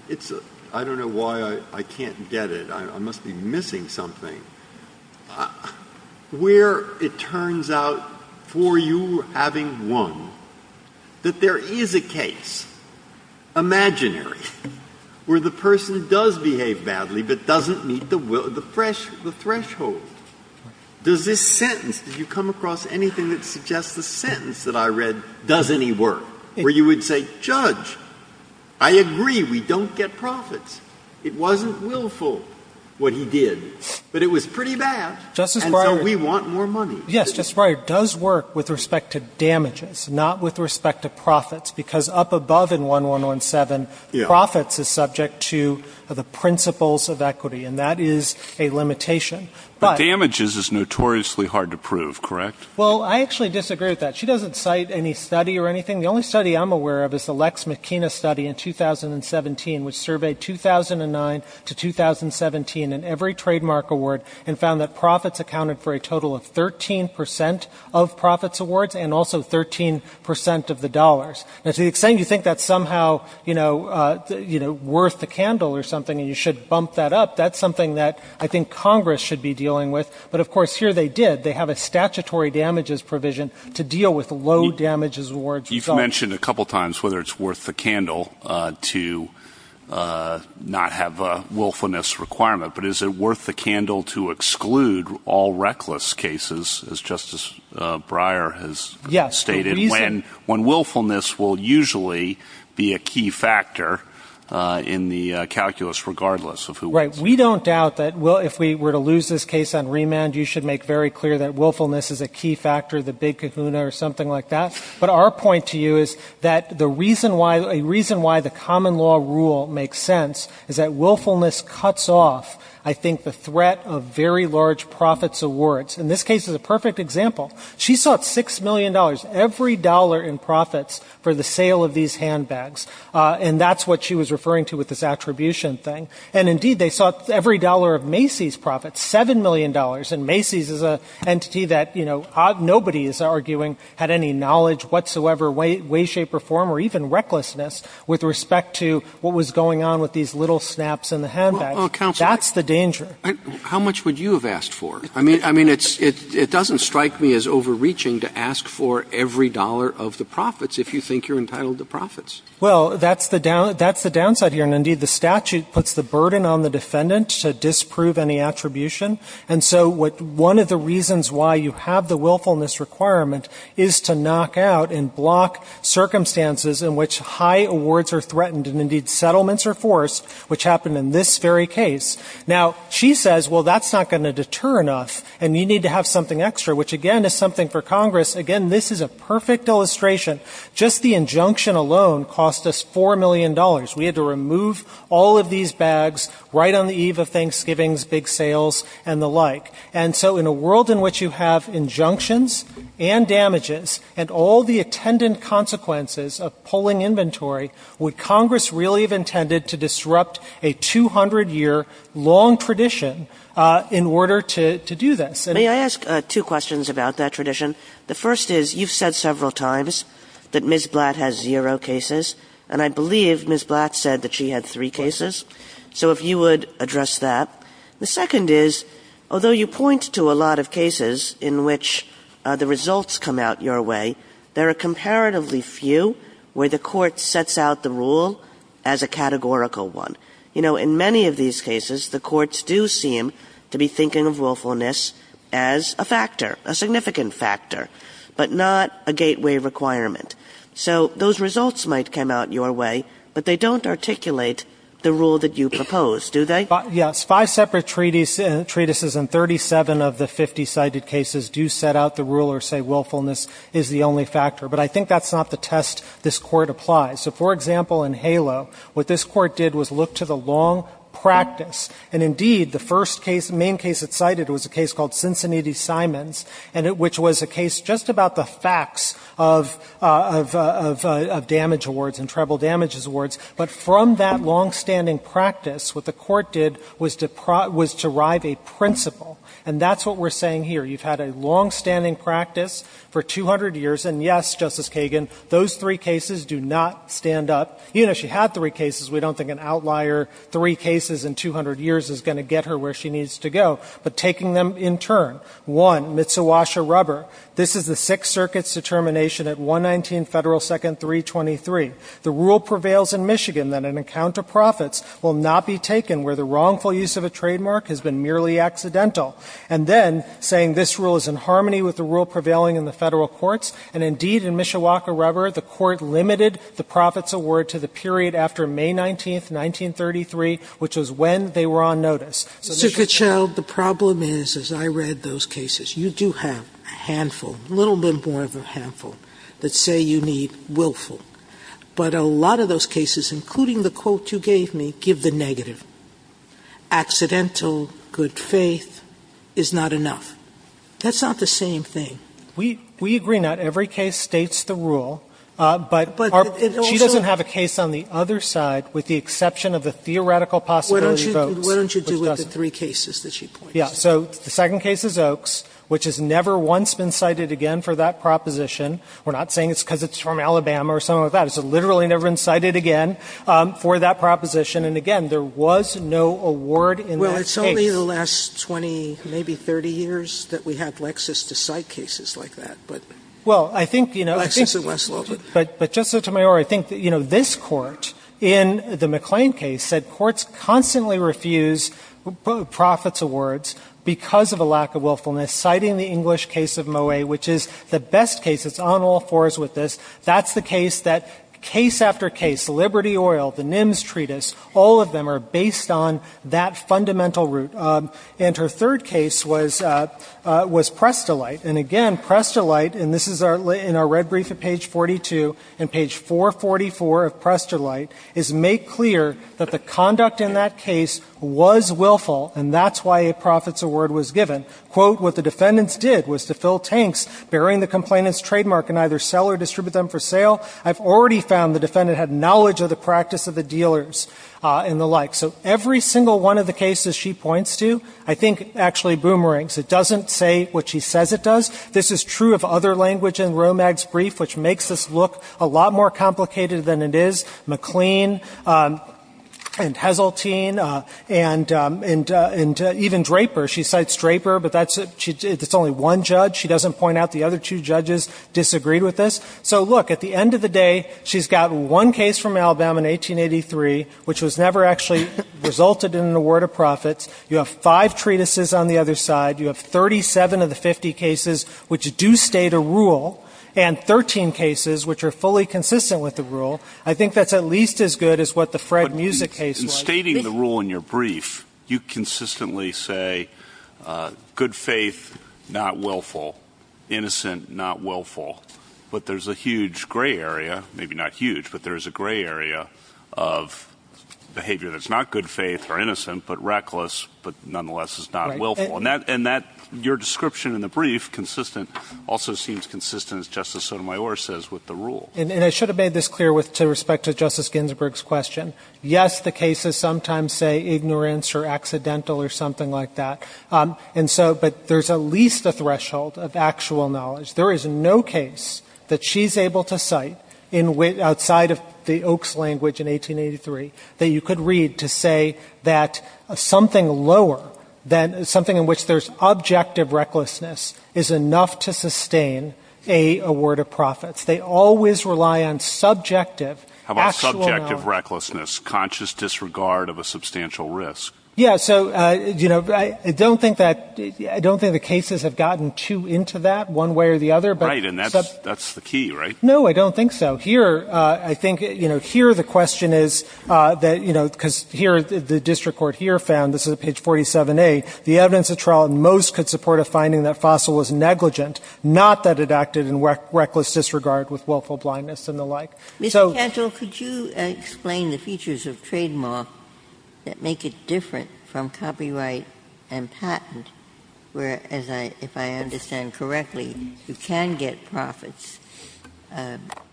end. I don't know why I can't get it. I must be missing something. Where it turns out, for you having won, that there is a case, imaginary, where the person does behave badly but doesn't meet the threshold. Does this sentence, did you come across anything that suggests the sentence that I read does any work? Where you would say, Judge, I agree, we don't get profits. It wasn't willful what he did. But it was pretty bad. And so we want more money. Yes, Justice Breyer. It does work with respect to damages, not with respect to profits, because up above in 1117, profits is subject to the principles of equity. And that is a limitation. But damages is notoriously hard to prove, correct? Well, I actually disagree with that. She doesn't cite any study or anything. The only study I'm aware of is the Lex McKenna study in 2017, which surveyed 2009 to 2017 in every trademark award and found that profits accounted for a total of 13% of profits awards and also 13% of the dollars. And to the extent you think that's somehow, you know, worth the candle or something and you should bump that up, that's something that I think Congress should be dealing with. But, of course, here they did. They have a statutory damages provision to deal with low damages awards. You've mentioned a couple times whether it's worth the candle to not have a willfulness requirement. But is it worth the candle to exclude all reckless cases, as Justice Breyer has stated, when willfulness will usually be a key factor in the calculus regardless of who wins? Right. We don't doubt that if we were to lose this case on remand, you should make very clear that willfulness is a key factor, the big kahuna or something like that. But our point to you is that the reason why the common law rule makes sense is that willfulness cuts off, I think, the threat of very large profits awards. And this case is a perfect example. She sought $6 million, every dollar in profits, for the sale of these handbags. And that's what she was referring to with this attribution thing. And, indeed, they sought every dollar of Macy's profits, $7 million. And Macy's is an entity that, you know, nobody is arguing had any knowledge whatsoever, way, shape, or form, or even recklessness with respect to what was going on with these little snaps in the handbags. That's the danger. How much would you have asked for? I mean, it doesn't strike me as overreaching to ask for every dollar of the profits if you think you're entitled to profits. Well, that's the downside here. And, indeed, the statute puts the burden on the defendant to disprove any attribution. And so one of the reasons why you have the willfulness requirement is to knock out and block circumstances in which high awards are threatened and, indeed, settlements are forced, which happened in this very case. Now, she says, well, that's not going to deter enough, and you need to have something extra, which, again, is something for Congress. Again, this is a perfect illustration. Just the injunction alone cost us $4 million. We had to remove all of these bags right on the eve of Thanksgiving's big sales and the like. And so in a world in which you have injunctions and damages and all the attendant consequences of pulling inventory, would Congress really have intended to disrupt a 200-year long tradition in order to do this? May I ask two questions about that tradition? The first is, you've said several times that Ms. Blatt has zero cases, and I believe Ms. Blatt said that she had three cases. So if you would address that. The second is, although you point to a lot of cases in which the results come out your way, there are comparatively few where the Court sets out the rule as a categorical one. You know, in many of these cases, the courts do seem to be thinking of willfulness as a factor, a significant factor, but not a gateway requirement. So those results might come out your way, but they don't articulate the rule that you propose, do they? Yes. Five separate treatises and 37 of the 50 cited cases do set out the rule or say willfulness is the only factor. But I think that's not the test this Court applies. So, for example, in HALO, what this Court did was look to the long practice. And indeed, the first case, main case it cited was a case called Cincinnati-Simons, which was a case just about the facts of damage awards and treble damages awards. But from that longstanding practice, what the Court did was derive a principle, and that's what we're saying here. You've had a longstanding practice for 200 years. And, yes, Justice Kagan, those three cases do not stand up. Even if she had three cases, we don't think an outlier three cases in 200 years is going to get her where she needs to go. But taking them in turn, one, Mitsubishi rubber. This is the Sixth Circuit's determination at 119 Federal Second 323. The rule prevails in Michigan that an account of profits will not be taken where the wrongful use of a trademark has been merely accidental. And then saying this rule is in harmony with the rule prevailing in the Federal courts, and indeed in Mishawaka rubber, the Court limited the profits award to the period after May 19th, 1933, which was when they were on notice. So this would be a problem. Sotomayor, the problem is, as I read those cases, you do have a handful, a little bit more of a handful, that say you need willful. But a lot of those cases, including the quote you gave me, give the negative. Accidental good faith is not enough. That's not the same thing. We agree not. Every case states the rule, but she doesn't have a case on the other side with the exception of the theoretical possibility of Oaks. What don't you do with the three cases that she points to? Yeah. So the second case is Oaks, which has never once been cited again for that proposition. We're not saying it's because it's from Alabama or something like that. It's literally never been cited again for that proposition. And, again, there was no award in that case. Well, it's only the last 20, maybe 30 years that we had Lexis to cite cases like that. Well, I think, you know, I think. Lexis it was a little bit. But, Justice Sotomayor, I think, you know, this Court in the McLean case said courts constantly refuse profits awards because of a lack of willfulness, citing the English case of Moet, which is the best case. It's on all fours with this. That's the case that case after case, Liberty Oil, the NIMS treatise, all of them are based on that fundamental root. And her third case was Prestolite. And, again, Prestolite, and this is in our red brief at page 42 and page 444 of Prestolite, is make clear that the conduct in that case was willful, and that's why a profits award was given. Quote, what the defendants did was to fill tanks bearing the complainant's trademark and either sell or distribute them for sale. I've already found the defendant had knowledge of the practice of the dealers and the like. So every single one of the cases she points to, I think actually boomerangs. It doesn't say what she says it does. This is true of other language in Romag's brief, which makes this look a lot more complicated than it is. McLean and Heseltine and even Draper. She cites Draper, but that's only one judge. She doesn't point out the other two judges disagreed with this. So, look, at the end of the day, she's got one case from Alabama in 1883, which was never actually resulted in an award of profits. You have five treatises on the other side. You have 37 of the 50 cases which do state a rule, and 13 cases which are fully consistent with the rule. I think that's at least as good as what the Fred Music case was. In stating the rule in your brief, you consistently say good faith, not willful. Innocent, not willful. But there's a huge gray area, maybe not huge, but there's a gray area of behavior that's not good faith or innocent, but reckless, but nonetheless is not willful. And that, your description in the brief, consistent, also seems consistent, as Justice Sotomayor says, with the rule. And I should have made this clear with respect to Justice Ginsburg's question. Yes, the cases sometimes say ignorance or accidental or something like that. And so, but there's at least a threshold of actual knowledge. There is no case that she's able to cite outside of the Oaks language in 1883 that you could read to say that something lower than something in which there's objective recklessness is enough to sustain a award of profits. They always rely on subjective, actual knowledge. The question is, can you say that there's a greater level of willful blindness, conscious disregard of a substantial risk? Yeah. So, you know, I don't think that the cases have gotten too into that one way or the other, but the... Right. And that's the key, right? No. I don't think so. Here, I think, you know, here the question is that, you know, because here the district court here found, this is at page 47A, the evidence at trial in most could support a finding that Fossil was negligent, not that it acted in reckless disregard with willful blindness and the like. So... Mr. Cantor, could you explain the features of trademark that make it different from copyright and patent where, as I, if I understand correctly, you can get profits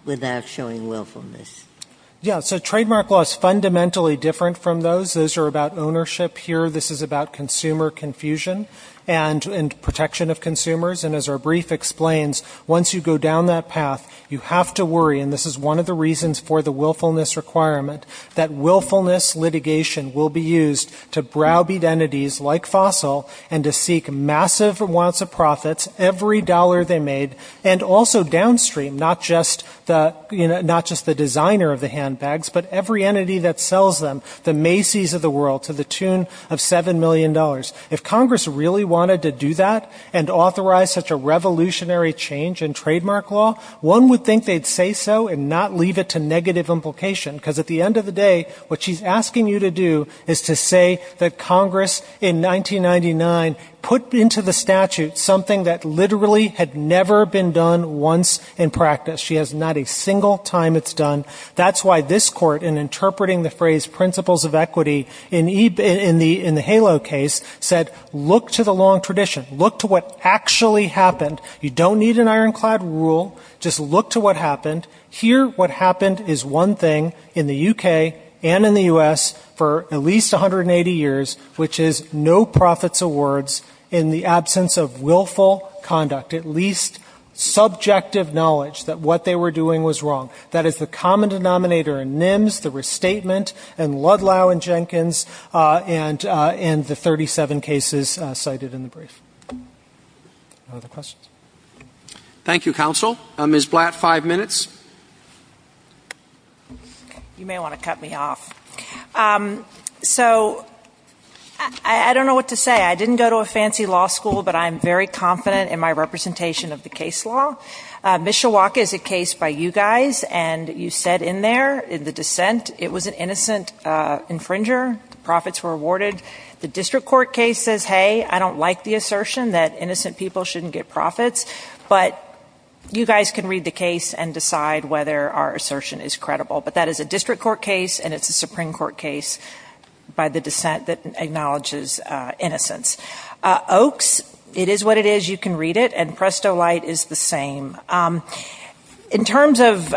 without showing willfulness? Yeah. So trademark law is fundamentally different from those. Those are about ownership. Here, this is about consumer confusion. And protection of consumers. And as our brief explains, once you go down that path, you have to worry, and this is one of the reasons for the willfulness requirement, that willfulness litigation will be used to browbeat entities like Fossil and to seek massive amounts of profits, every dollar they made, and also downstream, not just the, you know, not just the designer of the handbags, but every entity that sells them, the Macy's of the world, to the tune of $7 million. If Congress really wanted to do that and authorize such a revolutionary change in trademark law, one would think they'd say so and not leave it to negative implication. Because at the end of the day, what she's asking you to do is to say that Congress in 1999 put into the statute something that literally had never been done once in practice. She has not a single time it's done. That's why this Court, in interpreting the phrase principles of equity in the HALO case, said, look to the long tradition. Look to what actually happened. You don't need an ironclad rule. Just look to what happened. Here, what happened is one thing in the U.K. and in the U.S. for at least 180 years, which is no profits or words in the absence of willful conduct, at least subjective knowledge that what they were doing was wrong. That is the common denominator in NIMS, the restatement, and Ludlow and Jenkins, and the 37 cases cited in the brief. Other questions? Thank you, counsel. Ms. Blatt, five minutes. You may want to cut me off. So I don't know what to say. I didn't go to a fancy law school, but I am very confident in my representation of the case law. Mishawaka is a case by you guys, and you said in there, in the dissent, it was an innocent infringer. Profits were awarded. The district court case says, hey, I don't like the assertion that innocent people shouldn't get profits. But you guys can read the case and decide whether our assertion is credible. But that is a district court case, and it's a Supreme Court case by the dissent that acknowledges innocence. Oakes, it is what it is. You can read it, and Presto Light is the same. In terms of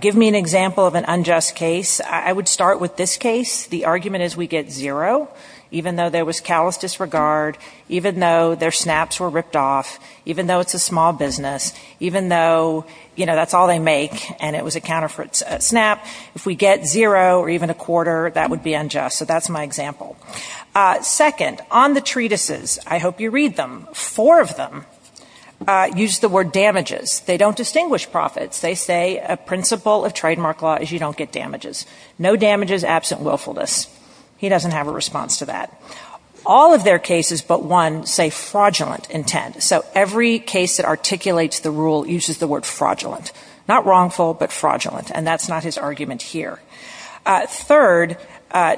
give me an example of an unjust case, I would start with this case. The argument is we get zero, even though there was callous disregard, even though their snaps were ripped off, even though it's a small business, even though, you know, that's all they make, and it was a counterfeit snap. If we get zero or even a quarter, that would be unjust. So that's my example. Second, on the treatises, I hope you read them. Four of them use the word damages. They don't distinguish profits. They say a principle of trademark law is you don't get damages. No damages absent willfulness. He doesn't have a response to that. All of their cases but one say fraudulent intent. So every case that articulates the rule uses the word fraudulent, not wrongful but fraudulent, and that's not his argument here. Third,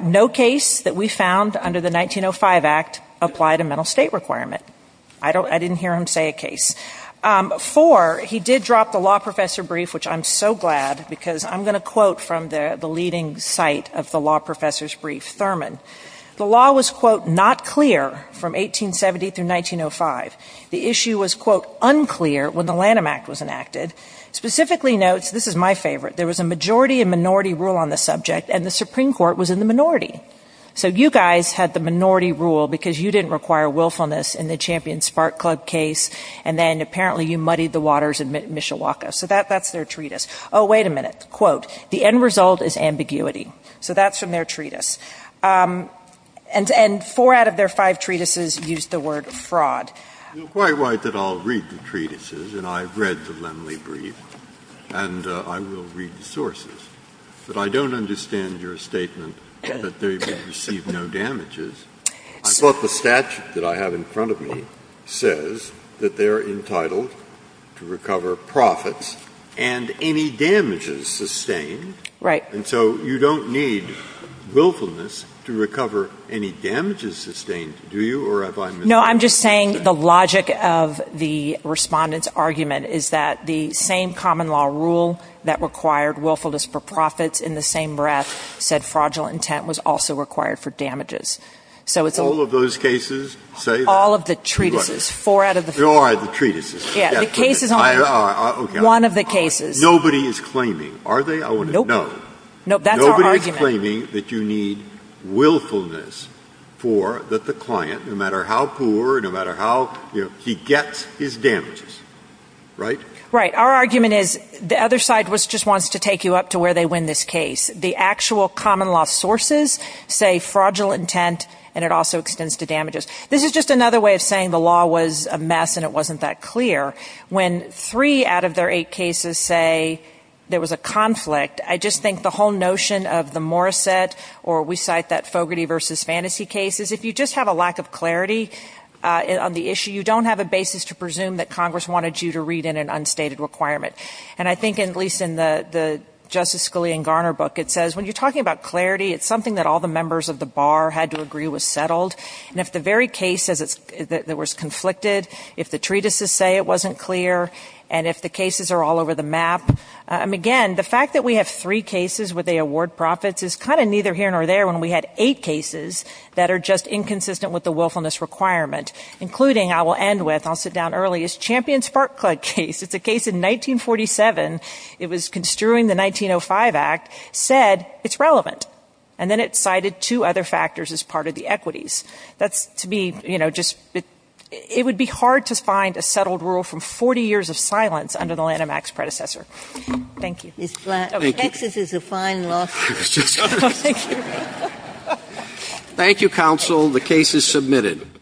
no case that we found under the 1905 Act applied a mental state requirement. I didn't hear him say a case. Four, he did drop the law professor brief, which I'm so glad, because I'm going to quote from the leading site of the law professor's brief, Thurman. The law was, quote, not clear from 1870 through 1905. The issue was, quote, unclear when the Lanham Act was enacted. Specifically notes, this is my favorite, there was a majority and minority rule on the subject, and the Supreme Court was in the minority. So you guys had the minority rule because you didn't require willfulness in the Champion Spark Club case, and then apparently you muddied the waters in Mishawaka. So that's their treatise. Oh, wait a minute. Quote, the end result is ambiguity. So that's from their treatise. And four out of their five treatises use the word fraud. It's quite right that I'll read the treatises, and I've read the Lemley brief, and I will read the sources. But I don't understand your statement that they receive no damages. I thought the statute that I have in front of me says that they are entitled to recover profits and any damages sustained. Right. And so you don't need willfulness to recover any damages sustained, do you? Or have I misunderstood? No, I'm just saying the logic of the Respondent's argument is that the same common law rule that required willfulness for profits in the same breath said fraudulent intent was also required for damages. All of those cases say that? All of the treatises. Four out of the five. All right, the treatises. Yeah, the cases on this. Okay. One of the cases. Nobody is claiming. Are they? I want to know. Nope. That's our argument. They are claiming that you need willfulness for the client, no matter how poor, no matter how, you know, he gets his damages. Right? Right. Our argument is the other side just wants to take you up to where they win this case. The actual common law sources say fraudulent intent, and it also extends to damages. This is just another way of saying the law was a mess and it wasn't that clear. When three out of their eight cases say there was a conflict, I just think the whole notion of the Morissette, or we cite that Fogarty versus Fantasy case, is if you just have a lack of clarity on the issue, you don't have a basis to presume that Congress wanted you to read in an unstated requirement. And I think, at least in the Justice Scalia and Garner book, it says when you're talking about clarity, it's something that all the members of the bar had to agree was settled. And if the very case that was conflicted, if the treatises say it wasn't clear, and if the cases are all over the map, again, the fact that we have three cases where they award profits is kind of neither here nor there when we had eight cases that are just inconsistent with the willfulness requirement, including, I will end with, I'll sit down early, is Champion's Spark Plug case. It's a case in 1947. It was construing the 1905 Act, said it's relevant. And then it cited two other factors as part of the equities. That's, to me, you know, just it would be hard to find a settled rule from 40 years of silence under the Lanham Act's predecessor. Thank you. Ms. Blatt, Texas is a fine law school. Thank you. Thank you, Counsel. The case is submitted.